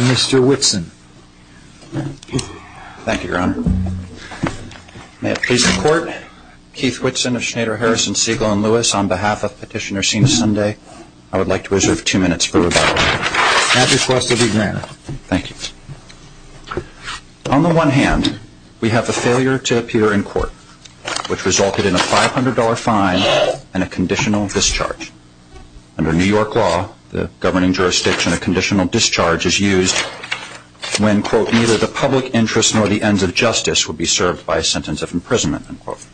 Mr. Whitson. Thank you, Your Honor. May it please the Court, Keith Whitson of Schneider, Harrison, Siegel, and Lewis, on behalf of Petitioner Sina Sunday, I would like to reserve two minutes for rebuttal. That request will be granted. Thank you. On the one hand, we have the failure to appear in court, which resulted in a $500 fine and a conditional discharge. Under New York law, the governing jurisdiction, a conditional discharge is used when, quote, neither the public interest nor the ends of justice would be served by a sentence of imprisonment, unquote.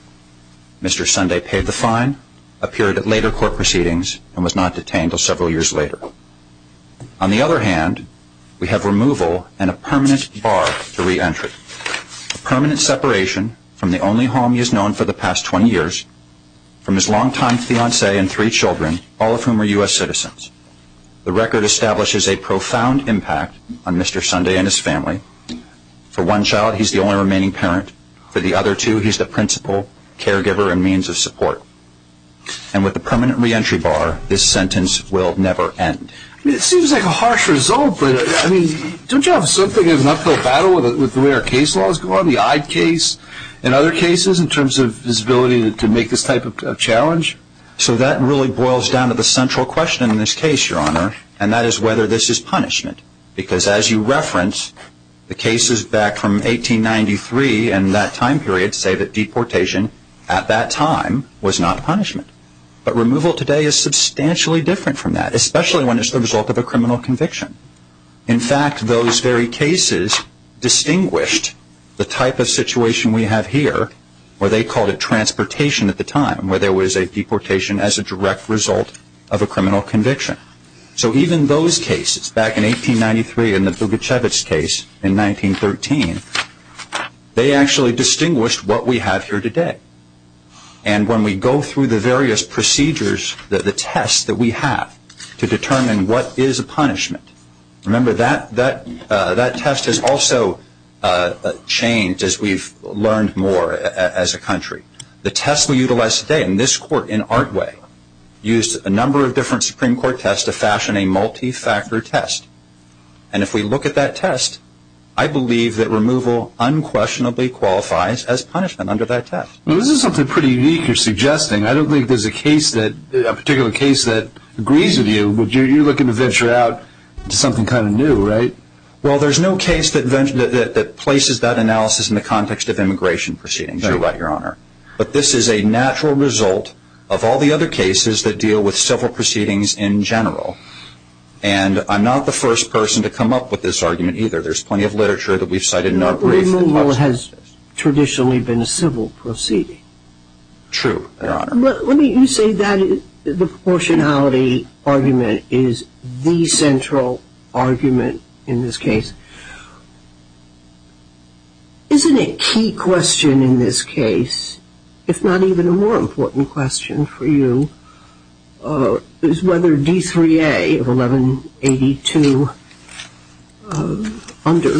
Mr. Sunday paid the fine, appeared at later court proceedings, and was not detained until several years later. On the other hand, we have removal and a permanent bar to reentry. A permanent separation from the only home he has known for the past 20 years, from his longtime fiancée and three children, all of whom are U.S. citizens. The record establishes a profound impact on Mr. Sunday and his family. For one child, he's the only remaining parent. For the other two, he's the principal, caregiver, and means of support. And with the permanent reentry bar, this sentence will never end. It seems like a harsh result, but I mean, don't you have something of an uphill battle with the way our case laws go on, the Eyde case and other cases, in terms of his ability to make this type of challenge? So that really boils down to the central question in this case, Your Honor, and that is whether this is punishment. Because as you reference, the cases back from 1893 and that time period say that deportation at that time was not punishment. But removal today is the result of a criminal conviction. In fact, those very cases distinguished the type of situation we have here, where they called it transportation at the time, where there was a deportation as a direct result of a criminal conviction. So even those cases back in 1893 and the Bugacevich case in 1913, they actually distinguished what we have here today. And when we go through the various procedures, the tests that we have to determine what is a punishment, remember that test has also changed as we've learned more as a country. The test we utilize today in this court in Artway used a number of different Supreme Court tests to fashion a multi-factor test. And if we look at that test, I believe that removal unquestionably qualifies as punishment under that test. Well, this is something pretty unique you're suggesting. I don't think there's a particular case that agrees with you, but you're looking to venture out to something kind of new, right? Well, there's no case that places that analysis in the context of immigration proceedings, Your Honor. But this is a natural result of all the other cases that deal with civil proceedings in general. And I'm not the first person to come up with this argument either. There's plenty of literature that we've cited in our briefs. Removal has traditionally been a civil proceeding. True, Your Honor. Let me say that the proportionality argument is the central argument in this case. Isn't a key question in this case, if not even a more important question for you, is whether D3A of 1182 under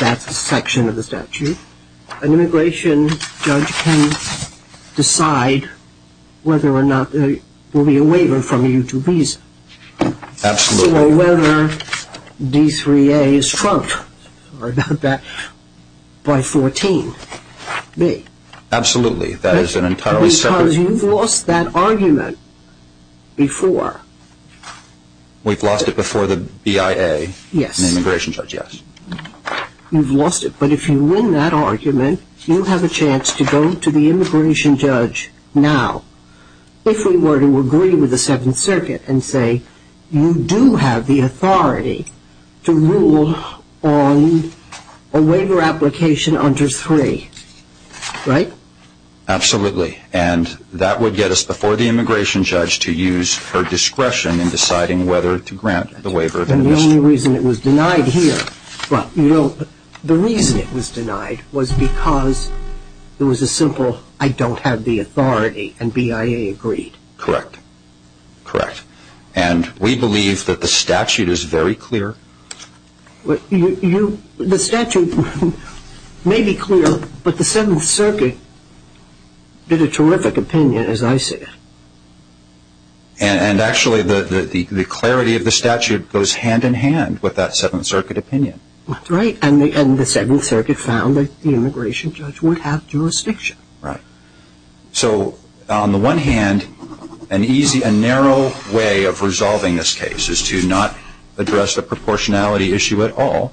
that section of the statute, an immigration judge can decide whether or not there will be a waiver from you to visa. Absolutely. So whether D3A is trumped by 14B. Absolutely. That is an entirely separate. Because you've lost that argument before. We've lost it before the BIA, the immigration judge, yes. You've lost it. But if you win that argument, you have a chance to go to the immigration judge now. If we were to the Seventh Circuit and say, you do have the authority to rule on a waiver application under three, right? Absolutely. And that would get us before the immigration judge to use her discretion in deciding whether to grant the waiver. And the only reason it was denied here, the reason it was denied was because it was a simple, I don't have the authority and BIA agreed. Correct. Correct. And we believe that the statute is very clear. The statute may be clear, but the Seventh Circuit did a terrific opinion, as I see it. And actually the clarity of the statute goes hand in hand with that Seventh Circuit opinion. That's right. And the Seventh Circuit found that the immigration judge would have jurisdiction. Right. So on the one hand, an easy and narrow way of resolving this case is to not address the proportionality issue at all.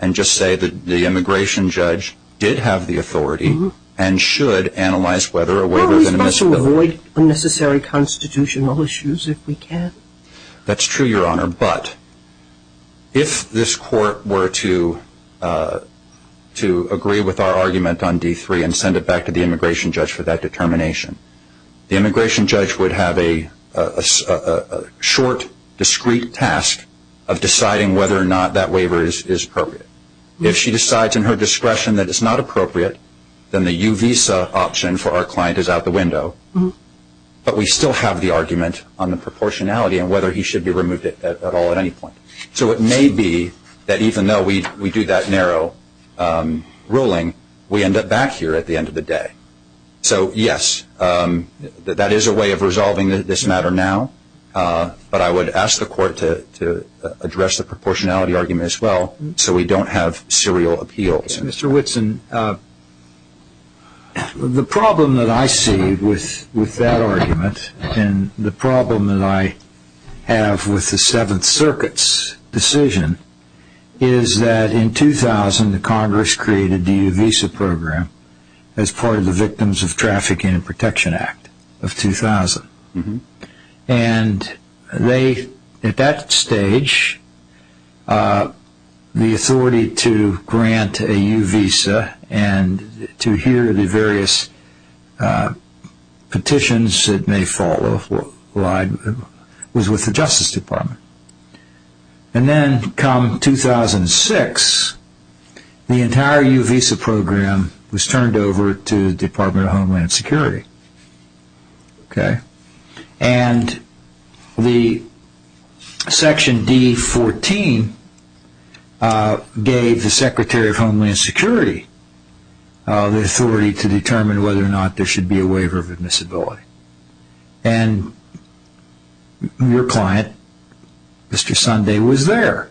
And just say that the immigration judge did have the authority and should analyze whether a waiver of an admissibility... Well, we've got to avoid unnecessary constitutional issues if we can. That's true, Your Honor. But if this court were to to agree with our argument on D3 and send it back to the immigration judge for that determination, the immigration judge would have a short, discrete task of deciding whether or not that waiver is appropriate. If she decides in her discretion that it's not appropriate, then the U visa option for our client is out the window. But we still have the argument on the proportionality and whether he should be removed at all at any point. So it may be that even though we do that narrow ruling, we end up back here at the end of the day. So yes, that is a way of resolving this matter now. But I would ask the court to address the proportionality argument as well so we don't have serial appeals. Mr. Whitson, the problem that I see with that argument and the problem that I have with the Seventh Circuit's decision is that in 2000, the Congress created the U visa program as part of the Victims of and to hear the various petitions that may follow was with the Justice Department. And then come 2006, the entire U visa program was turned over to the Department of Homeland Security. And the Section D14 gave the Secretary of Homeland Security the authority to determine whether or not there should be a waiver of admissibility. And your client, Mr. Sunday, was there.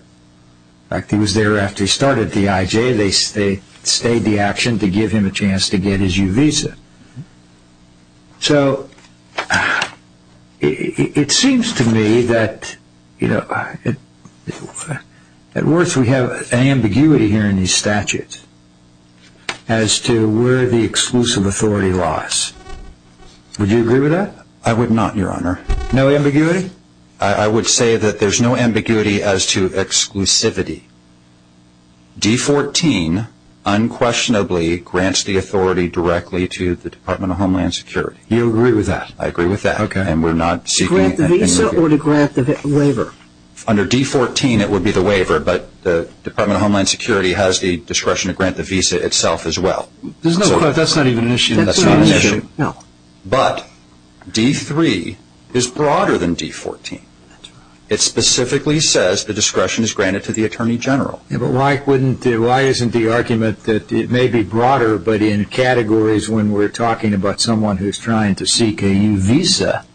In fact, he was there after he started at the IJ. They stayed the action to give him a chance to get his U visa. So it seems to me that, you know, at worst, we have an ambiguity here in these statutes as to where the exclusive authority lies. Would you agree with that? I would not, Your Honor. No ambiguity? I would say that there's no ambiguity as to exclusivity. D14 unquestionably grants the authority directly to the Department of Homeland Security. You agree with that? I agree with that. Okay. And we're not seeking... To grant the visa or to grant the waiver? Under D14, it would be the waiver. But the Department of Homeland Security has the discretion to grant the visa itself as well. There's no... That's not even an issue. That's not an issue. No. But D3 is broader than D14. That's right. It specifically says the discretion is granted to the Attorney General. Yeah, but why isn't the argument that it may be broader, but in categories when we're talking about someone who's trying to seek a U visa,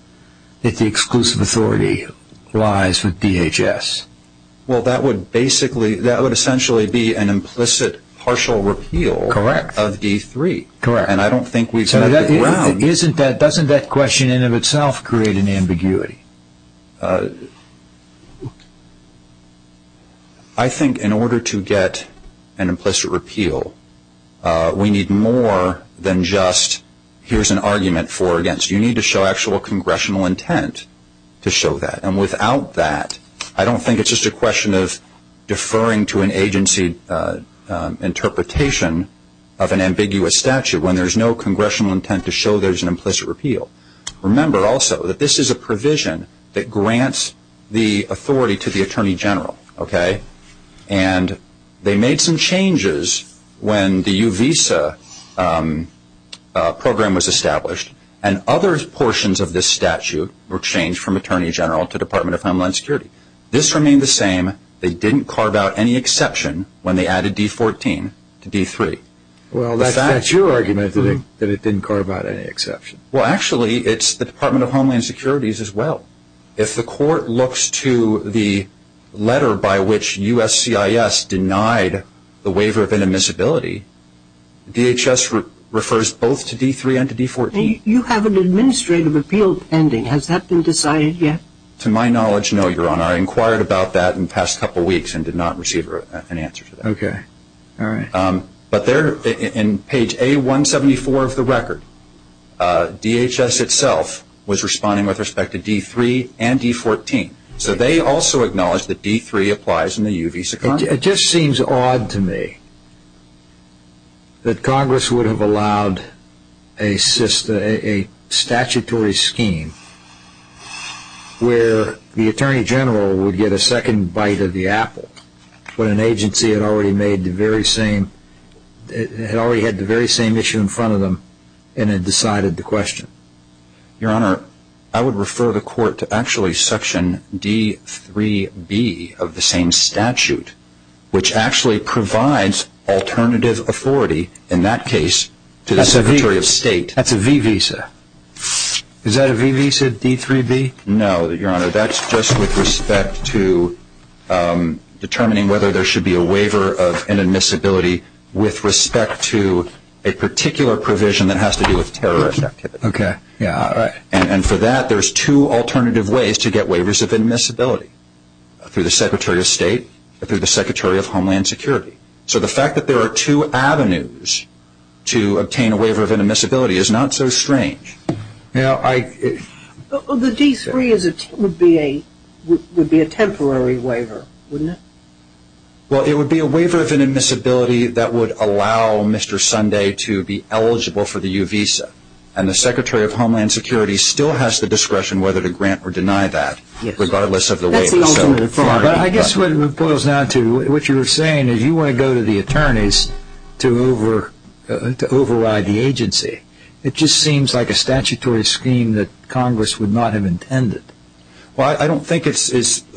that the exclusive authority lies with DHS? Well, that would essentially be an implicit partial repeal... Correct. ...of D3. Correct. So doesn't that question in and of itself create an ambiguity? I think in order to get an implicit repeal, we need more than just, here's an argument for or against. You need to show actual congressional intent to show that. And without that, I don't think it's just a question of deferring to an agency interpretation of an ambiguous statute when there's no congressional intent to show there's an implicit repeal. Remember also that this is a provision that grants the authority to the Attorney General, okay? And they made some changes when the U visa program was established, and other portions of this statute were changed from Attorney General to Department of Homeland Security. This remained the same. They didn't carve out any exception when they added D14 to D3. Well, that's your argument that it didn't carve out any exception. Well, actually, it's the Department of Homeland Security's as well. If the court looks to the letter by which USCIS denied the waiver of inadmissibility, DHS refers both to D3 and to D14. You have an administrative appeal pending. Has that been decided yet? To my knowledge, no, Your Honor. I inquired about that in the past couple of weeks and did not receive an answer to that. But there in page A174 of the record, DHS itself was responding with respect to D3 and D14. So they also acknowledged that D3 applies in the U visa contract. It just seems odd to me that Congress would have allowed a statutory scheme where the Attorney General would get a second bite of the apple when an agency had already had the very same issue in front of them and had decided the question. Your Honor, I would refer the court to actually section D3B of the same statute, which actually provides alternative authority in that case to the Secretary of State. That's a V visa. Is that a V visa, D3B? No, Your Honor. That's just with respect to determining whether there should be a waiver of inadmissibility with respect to a particular provision that has to do with terrorist activity. Okay. Yeah. All right. And for that, there's two alternative ways to get waivers of inadmissibility, through the Secretary of State, through the Secretary of Homeland Security. So the fact that there are two avenues to obtain a waiver of inadmissibility is not so strange. Well, the D3 would be a temporary waiver, wouldn't it? Well, it would be a waiver of inadmissibility that would allow Mr. Sunday to be eligible for the U visa. And the Secretary of Homeland Security still has the discretion whether to grant or deny that, regardless of the waiver. I guess what it boils down to, what you were saying is you want to go to the attorneys to override the agency. It just seems like a statutory scheme that Congress would not have intended. Well, I don't think it's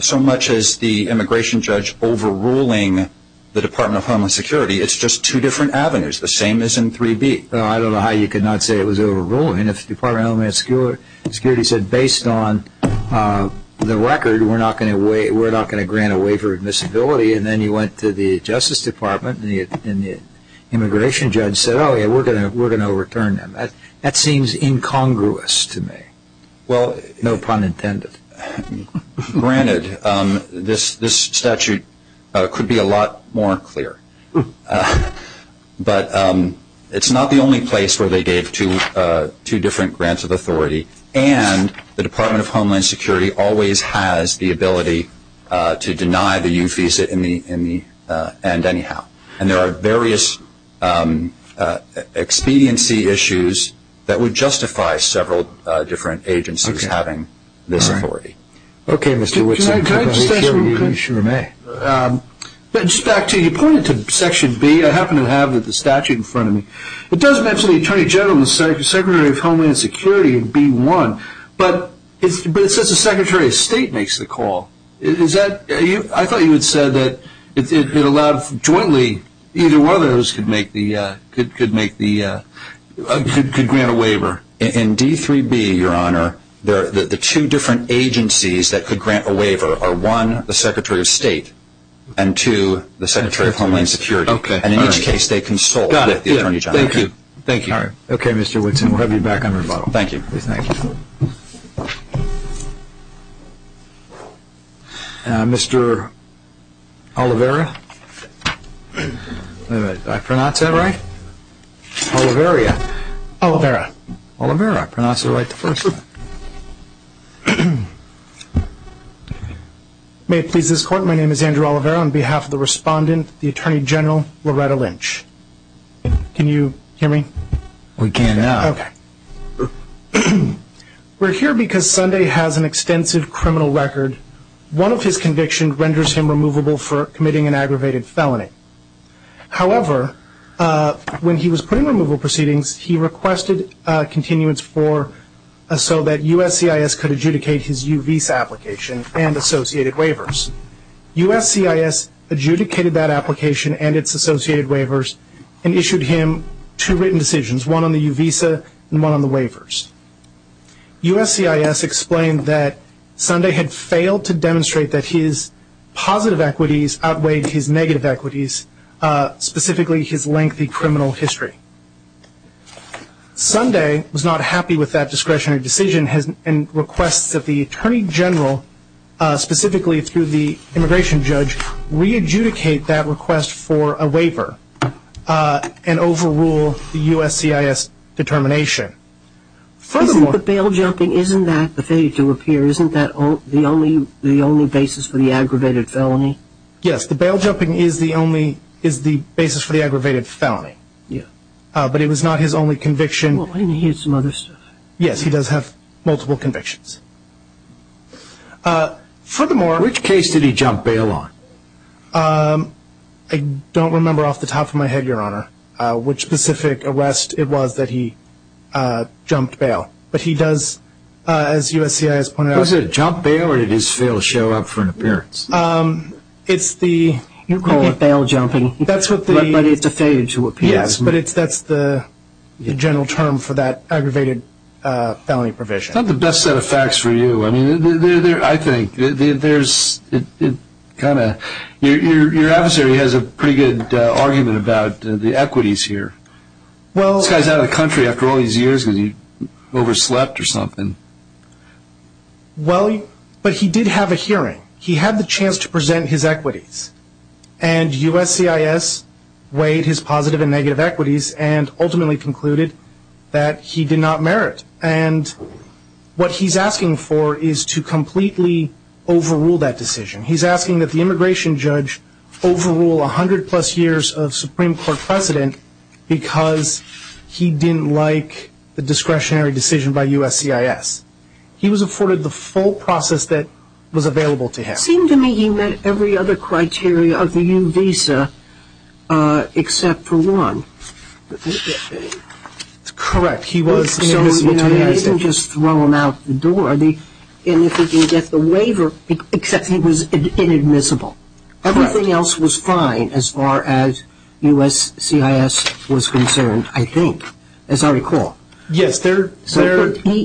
so much as the immigration judge overruling the Department of Homeland Security. It's just two different avenues, the same as in 3B. I don't know how you could not say it was overruling if the Department of Homeland Security said, based on the record, we're not going to grant a waiver of inadmissibility. And then you went to the Justice Department and the immigration judge said, oh, yeah, we're going to return them. That seems incongruous to me. Well, no pun intended. Granted, this statute could be a lot more clear. But it's not the only place where they gave two different grants of authority. And the Department of Homeland Security always has the ability to deny the UFESA in the end, anyhow. And there are various expediency issues that would justify several different agencies having this authority. Okay, Mr. Witson. Can I just ask one question? You sure may. Back to you. You pointed to Section B. I happen to have the statute in front of me. It does mention the Attorney General and the Secretary of Homeland Security in B1, but it says the Secretary of State makes the call. I thought you had said that it allowed jointly, either one of those could grant a waiver. In D3B, Your Honor, the two different agencies that could grant a waiver are, one, the Secretary of State, and two, the Secretary of Homeland Security. And in each case, they consult with the Attorney General. Got it. Thank you. Thank you. All right. Okay, Mr. Witson, we'll have you back on rebuttal. Thank you. Please, thank you. Mr. Oliveira? Wait a minute. Did I pronounce that right? Oliveira. Oliveira. Oliveira. I pronounced it right the first time. May it please this Court, my name is Andrew Oliveira. On behalf of the respondent, the Attorney General, Loretta Lynch. Can you hear me? We can now. We're here because Sunday has an extensive criminal record. One of his convictions renders him removable for committing an aggravated felony. However, when he was putting removal proceedings, he requested continuance for, so that USCIS could adjudicate his U visa application and associated waivers. USCIS adjudicated that application and its associated waivers and issued him two written decisions, one on the U visa and one on the waivers. USCIS explained that Sunday had failed to demonstrate that his positive equities outweighed his negative equities, specifically his lengthy criminal history. Sunday was not happy with that discretionary decision and requests that the Attorney General, specifically through the immigration judge, re-adjudicate that request for a waiver and overrule the USCIS determination. Furthermore- The bail jumping, isn't that the thing to appear? Isn't that the only basis for the aggravated felony? Yes, the bail jumping is the only, is the basis for the aggravated felony. Yeah. But it was not his only conviction. Well, he had some other stuff. Yes, he does have multiple convictions. Furthermore- Which case did he jump bail on? I don't remember off the top of my head, your honor, which specific arrest it was that he jumped bail, but he does, as USCIS pointed out- Was it a jump bail or did his fail show up for an appearance? It's the- You call it bail jumping. That's what the- But it's a failure to appear. Yes, but that's the general term for that aggravated felony provision. It's not the best set of facts for you. I mean, I think there's, it kind of, your adversary has a pretty good argument about the equities here. Well- This guy's out of the country after all these years because he overslept or something. Well, but he did have a hearing. He had the chance to present his equities and USCIS weighed his positive and negative equities and ultimately concluded that he did not merit. And what he's asking for is to completely overrule that decision. He's asking that the immigration judge overrule 100 plus years of Supreme Court precedent because he didn't like the discretionary decision by USCIS. He was afforded the full process that was available to him. It seemed to me he met every other criteria of the new visa except for one. Correct. He was- So he didn't just throw them out the door. And if he didn't get the waiver, except he was inadmissible. Everything else was fine as far as USCIS was concerned, I think, as I recall. Yes, their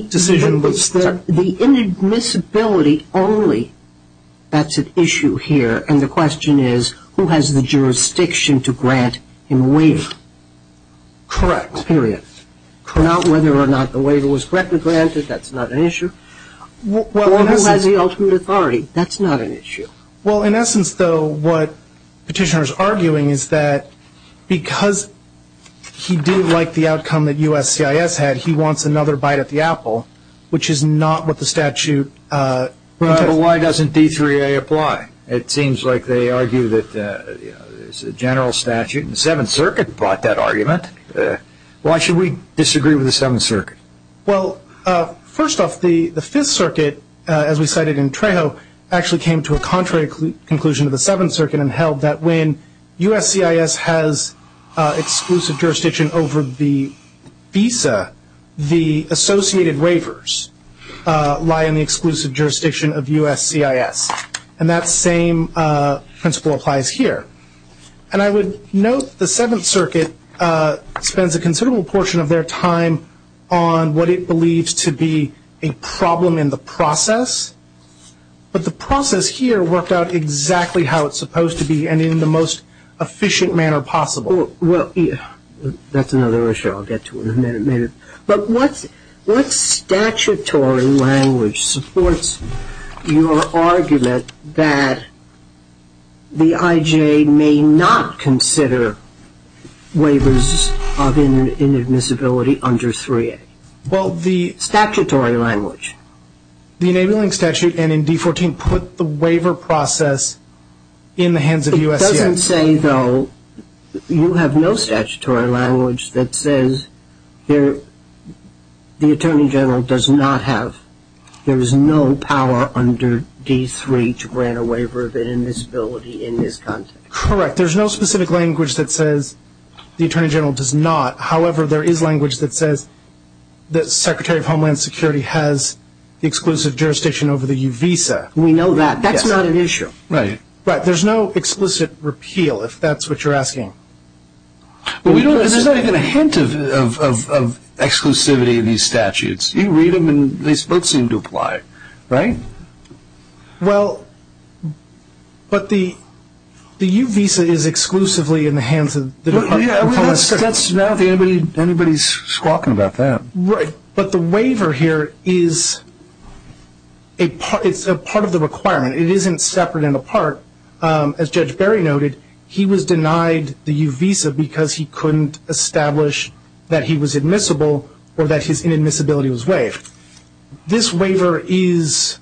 decision was- The inadmissibility only, that's an issue here. And the question is, who has the jurisdiction to grant him a waiver? Correct. Period. Not whether or not the waiver was correctly granted, that's not an issue. Or who has the ultimate authority, that's not an issue. Well, in essence, though, what Petitioner's arguing is that because he didn't like the outcome that USCIS had, he wants another bite at the apple, which is not what the statute- Why doesn't D3A apply? It seems like they argue that it's a general statute. The Seventh Circuit brought that argument. Why should we disagree with the Seventh Circuit? Well, first off, the Fifth Circuit, as we cited in Trejo, actually came to a contrary conclusion to the Seventh Circuit and held that when USCIS has exclusive jurisdiction over the visa, the associated waivers lie in the exclusive jurisdiction of USCIS. And that same principle applies here. And I would note the Seventh Circuit spends a considerable portion of their time on what it believes to be a problem in the process. But the process here worked out exactly how it's supposed to be and in the most efficient manner possible. Well, that's another issue I'll get to in a minute. But what statutory language supports your argument that the IJ may not consider waivers of inadmissibility under 3A? Well, the- Statutory language. The Enabling Statute and in D14 put the waiver process in the hands of USCIS. You can say, though, you have no statutory language that says the Attorney General does not have- there is no power under D3 to grant a waiver of inadmissibility in this context. Correct. There's no specific language that says the Attorney General does not. However, there is language that says the Secretary of Homeland Security has exclusive jurisdiction over the U visa. We know that. That's not an issue. Right. There's no explicit repeal, if that's what you're asking. There's not even a hint of exclusivity in these statutes. You read them and they both seem to apply, right? Well, but the U visa is exclusively in the hands of the Department of Homeland Security. That's not- anybody's squawking about that. Right. But the waiver here is a part of the requirement. It isn't separate and apart. As Judge Berry noted, he was denied the U visa because he couldn't establish that he was admissible or that his inadmissibility was waived. This waiver is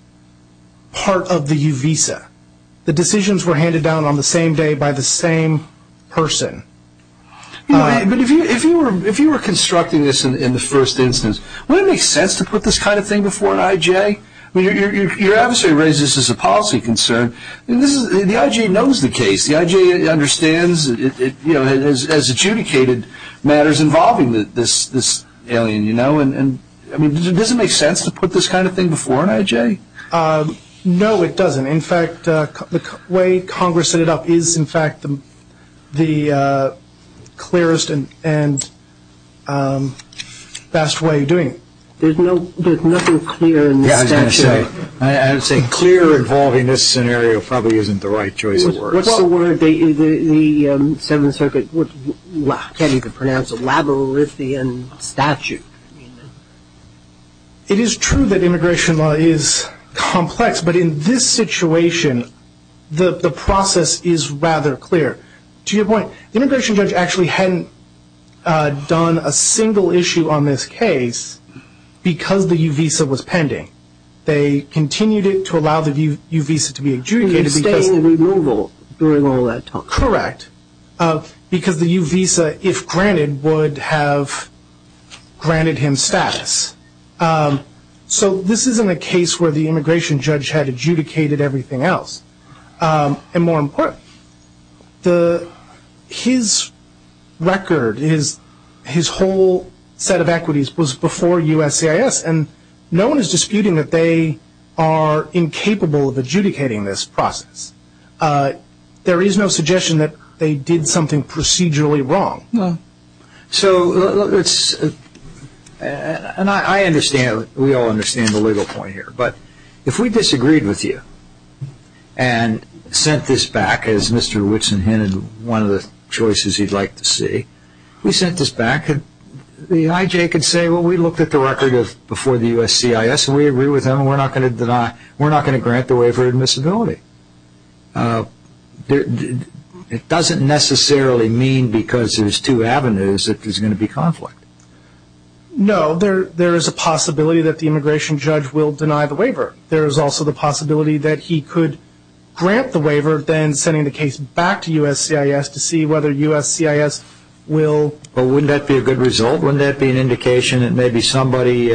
part of the U visa. The decisions were handed down on the same day by the same person. But if you were constructing this in the first instance, wouldn't it make sense to put this kind of thing before an IJ? Your adversary raises this as a policy concern. The IJ knows the case. The IJ understands it has adjudicated matters involving this alien. Does it make sense to put this kind of thing before an IJ? No, it doesn't. In fact, the way Congress set it up is, in fact, the clearest and best way of doing it. There's nothing clear in the statute. I was going to say, clear involving this scenario probably isn't the right choice of words. What's the word the Seventh Circuit would- can't even pronounce- a labyrinthian statute? It is true that immigration law is complex, but in this situation, the process is rather clear. To your point, the immigration judge actually hadn't done a single issue on this case because the U visa was pending. They continued it to allow the U visa to be adjudicated because- It would stay in removal during all that time. Correct. Because the U visa, if granted, would have granted him status. So this isn't a case where the immigration judge had adjudicated everything else. And more important, his record, his whole set of equities was before USCIS and no one is disputing that they are incapable of adjudicating this process. There is no suggestion that they did something procedurally wrong. And I understand, we all understand the legal point here, but if we disagreed with you and sent this back, as Mr. Whitson hinted, one of the choices you'd like to see, we sent this back and the IJ could say, well, we looked at the record before USCIS and we agree with them and we're not going to grant the waiver admissibility. It doesn't necessarily mean because there's two avenues that there's going to be conflict. No, there is a possibility that the immigration judge will deny the waiver. There is also the possibility that he could grant the waiver, then sending the case back to USCIS to see whether USCIS will... Well, wouldn't that be a good result? Wouldn't that be an indication that maybe somebody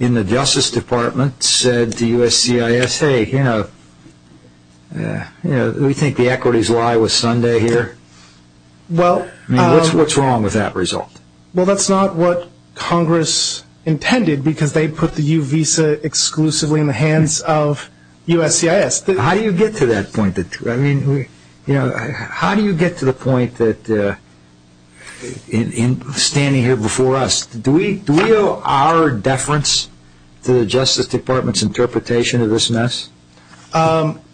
in the Justice Department said to USCIS, hey, you know, we think the equities lie with Sunday here. Well... I mean, what's wrong with that result? Well, that's not what Congress intended because they put the U visa exclusively in the hands of USCIS. How do you get to that point? I mean, how do you get to the point that in standing here before us, do we owe our deference to the Justice Department's interpretation of this mess?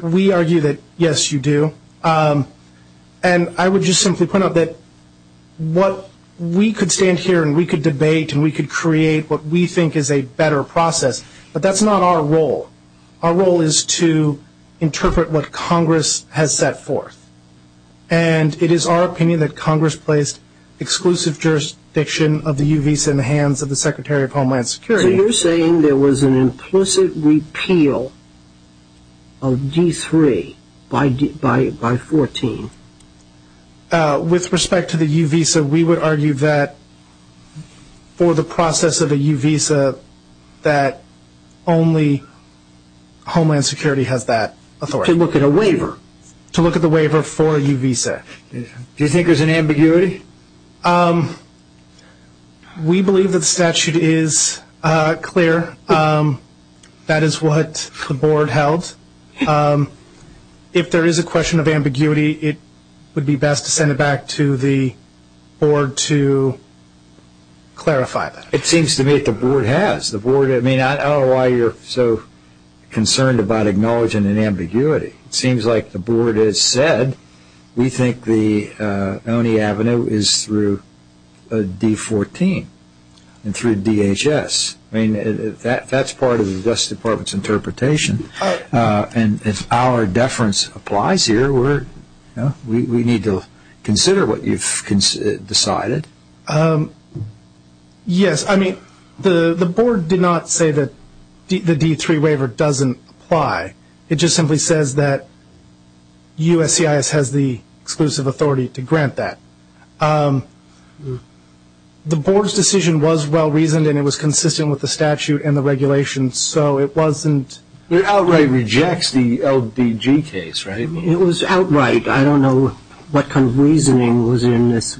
We argue that, yes, you do. And I would just simply point out that what we could stand here and we could debate and we could create what we think is a better process, but that's not our role. Our role is to interpret what Congress has set forth. And it is our opinion that Congress placed exclusive jurisdiction of the U visa in the hands of the Secretary of Homeland Security. So you're saying there was an implicit repeal of D3 by 14? With respect to the U visa, we would argue that for the process of a U visa that only Homeland Security has that authority. To look at a waiver? To look at the waiver for a U visa. Do you think there's an ambiguity? We believe that the statute is clear. That is what the board held. If there is a question of ambiguity, it would be best to send it back to the board to clarify that. It seems to me that the board has. I don't know why you're so concerned about acknowledging an ambiguity. It seems like the board has said we think the Oney Avenue is through D14 and through DHS. That's part of the Justice Department's interpretation. And if our deference applies here, we need to consider what you've decided. Yes. I mean, the board did not say that the D3 waiver doesn't apply. It just simply says that USCIS has the exclusive authority to grant that. The board's decision was well-reasoned and it was consistent with the statute and the regulations. So it wasn't. It outright rejects the LBG case, right? It was outright. I don't know what kind of reasoning was in this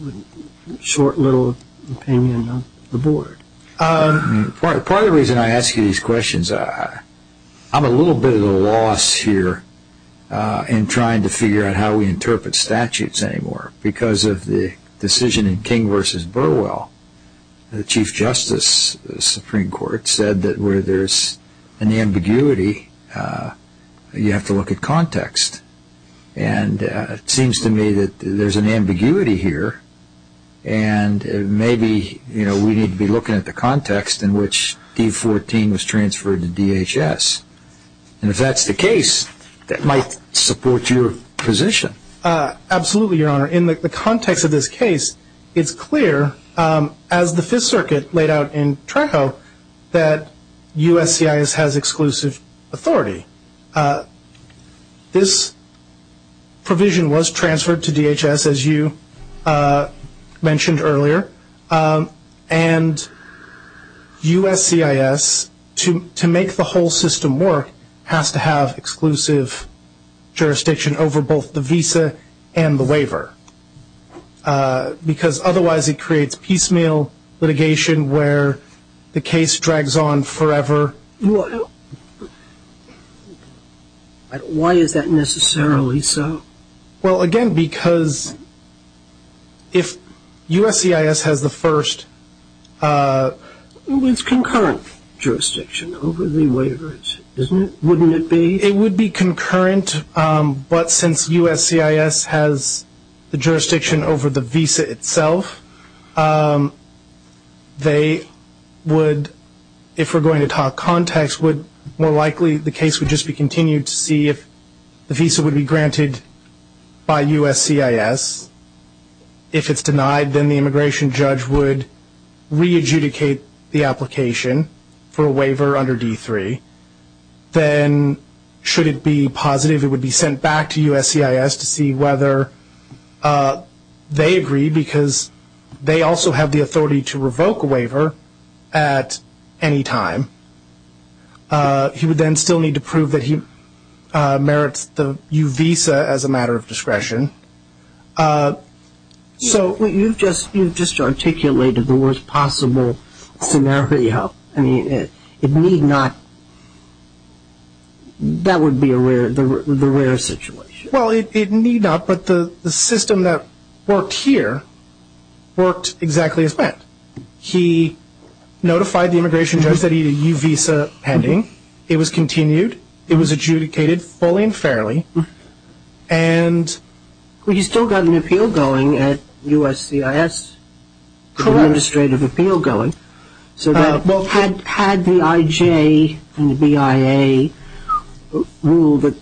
short little opinion of the board. Part of the reason I ask you these questions, I'm a little bit at a loss here in trying to figure out how we interpret statutes anymore. Because of the decision in King v. Burwell, the Chief Justice of the Supreme Court said that where there's an ambiguity, you have to look at context. And it seems to me that there's an ambiguity here. And maybe we need to be looking at the context in which D14 was transferred to DHS. And if that's the case, that might support your position. Absolutely, Your Honor. In the context of this case, it's clear as the Fifth Circuit laid out in Trejo that USCIS has exclusive authority. This provision was transferred to DHS, as you mentioned earlier. And USCIS, to make the whole system work, has to have exclusive jurisdiction over both the case and the visa itself. Why is that necessarily so? Well, again, because if USCIS has the first... It's concurrent jurisdiction over the waiver, isn't it? Wouldn't it be? It would be concurrent. But since USCIS has the jurisdiction over the visa itself, would, if we're going to talk context, would more likely the case would just be continued to see if the visa would be granted by USCIS. If it's denied, then the immigration judge would re-adjudicate the application for a waiver under D3. Then should it be positive, it would be sent back to USCIS to see whether they agree, because they also have the authority to revoke a waiver at any time. He would then still need to prove that he merits the U visa as a matter of discretion. You've just articulated the worst possible scenario. I mean, it need not... That would be the rare situation. Well, it need not, but the system that worked here worked exactly as planned. He notified the immigration judge that he had a U visa pending. It was continued. It was adjudicated fully and fairly. You still got an appeal going at USCIS, an administrative appeal going. So that had the IJ and the BIA rule that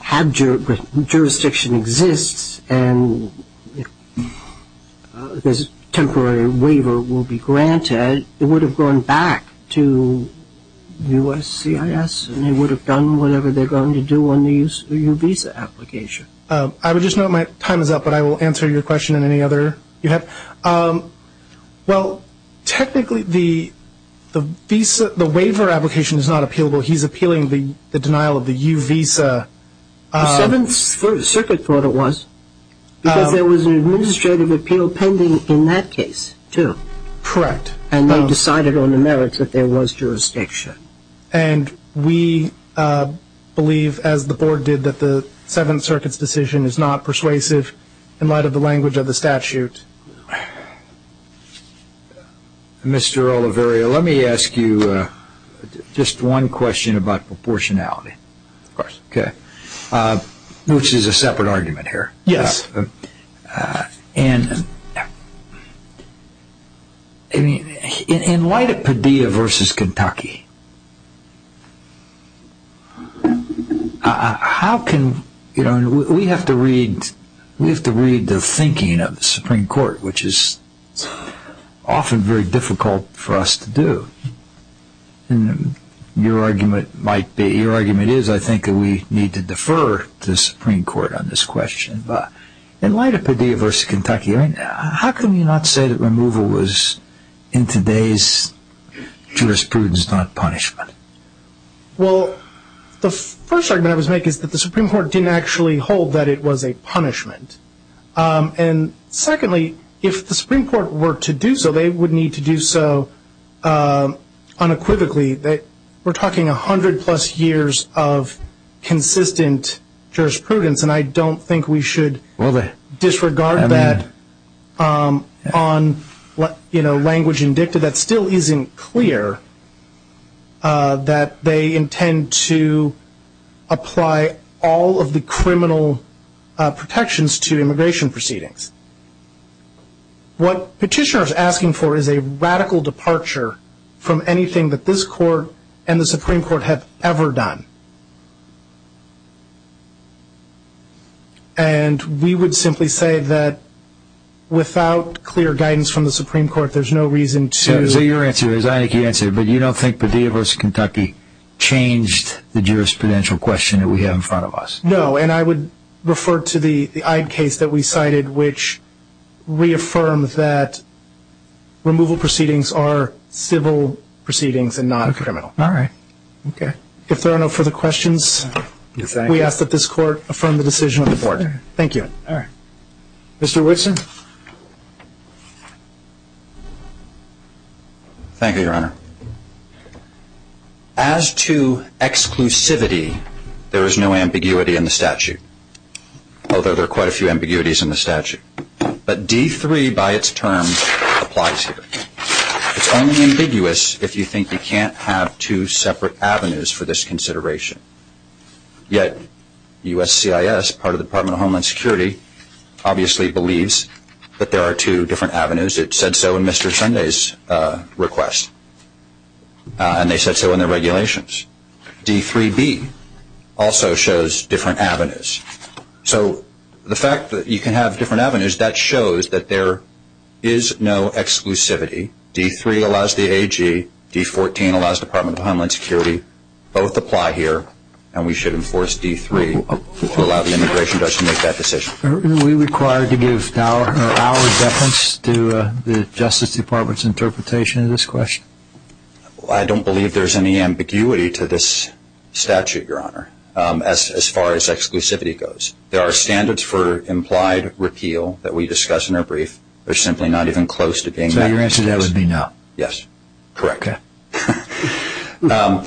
had jurisdiction exists and this temporary waiver will be granted, it would have gone back to USCIS, and they would have done whatever they're going to do on the U visa application. I would just note my time is up, but I will answer your question in any other you have. Okay. Well, technically, the waiver application is not appealable. He's appealing the denial of the U visa. The Seventh Circuit thought it was, because there was an administrative appeal pending in that case, too. Correct. And they decided on the merits that there was jurisdiction. And we believe, as the board did, that the Seventh Circuit's decision is not persuasive in light of the language of the statute. Mr. Oliverio, let me ask you just one question about proportionality. Of course. Okay. Which is a separate argument here. Yes. And in light of Padilla versus Kentucky, how can, you know, we have to read, we have to read the thinking of the Supreme Court, which is often very difficult for us to do. And your argument might be, your argument is, I think, that we need to defer to the Supreme Court on this question. But in light of Padilla versus Kentucky, how can we not say that removal was, in today's jurisprudence, not possible? Punishment. Well, the first argument I was going to make is that the Supreme Court didn't actually hold that it was a punishment. And secondly, if the Supreme Court were to do so, they would need to do so unequivocally. That we're talking 100 plus years of consistent jurisprudence. And I don't think we should disregard that on, you know, language in dicta that still isn't clear. That they intend to apply all of the criminal protections to immigration proceedings. What Petitioner is asking for is a radical departure from anything that this court and the Supreme Court have ever done. And we would simply say that without clear guidance from the Supreme Court, there's no reason to... So your answer is, I think you answered it, but you don't think Padilla versus Kentucky changed the jurisprudential question that we have in front of us? No, and I would refer to the Eyde case that we cited, which reaffirmed that removal proceedings are civil proceedings and not criminal. All right. Okay. If there are no further questions, we ask that this court affirm the decision of the board. Thank you. All right. Mr. Whitson? Thank you, Your Honor. As to exclusivity, there is no ambiguity in the statute, although there are quite a few ambiguities in the statute. But D-3 by its term applies here. It's only ambiguous if you think you can't have two separate avenues for this consideration. Yet USCIS, part of the Department of Homeland Security, obviously believes that there are two different avenues. It said so in Mr. Sunday's request, and they said so in their regulations. D-3B also shows different avenues. So the fact that you can have different avenues, that shows that there is no exclusivity. D-3 allows the AG. D-14 allows Department of Homeland Security. Both apply here, and we should enforce D-3 to allow the immigration judge to make that decision. Are we required to give our deference to the Justice Department's interpretation of this question? I don't believe there's any ambiguity to this statute, Your Honor, as far as exclusivity goes. There are standards for implied repeal that we discuss in our brief. They're simply not even close to being that. So your answer to that would be no. Yes, correct. Okay.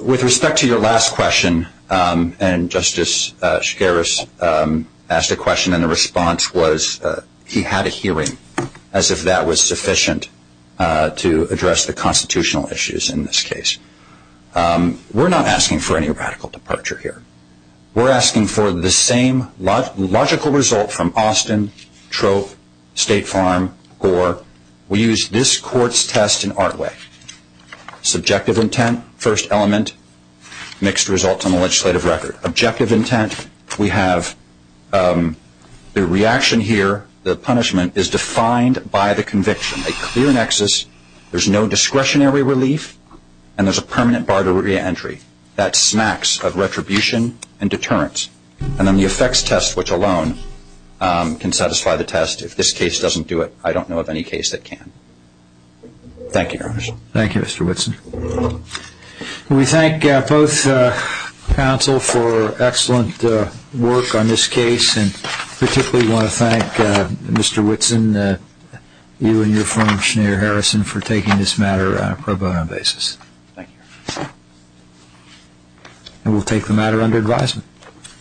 With respect to your last question, and Justice Scaris asked a question, and the response was he had a hearing, as if that was sufficient to address the constitutional issues in this case. We're not asking for any radical departure here. We're asking for the same logical result from Austin, Troop, State Farm, Gore. We use this court's test in our way. Subjective intent, first element, mixed results on the legislative record. Objective intent, we have the reaction here. The punishment is defined by the conviction. A clear nexus. There's no discretionary relief, and there's a permanent bar to reentry. That smacks of retribution and deterrence. And then the effects test, which alone can satisfy the test. If this case doesn't do it, I don't know of any case that can. Thank you, Your Honor. Thank you, Mr. Whitson. We thank both counsel for excellent work on this case, and particularly want to thank Mr. Whitson, you and your firm, Schneider Harrison, for taking this matter on a pro bono basis. Thank you. And we'll take the matter under advisement.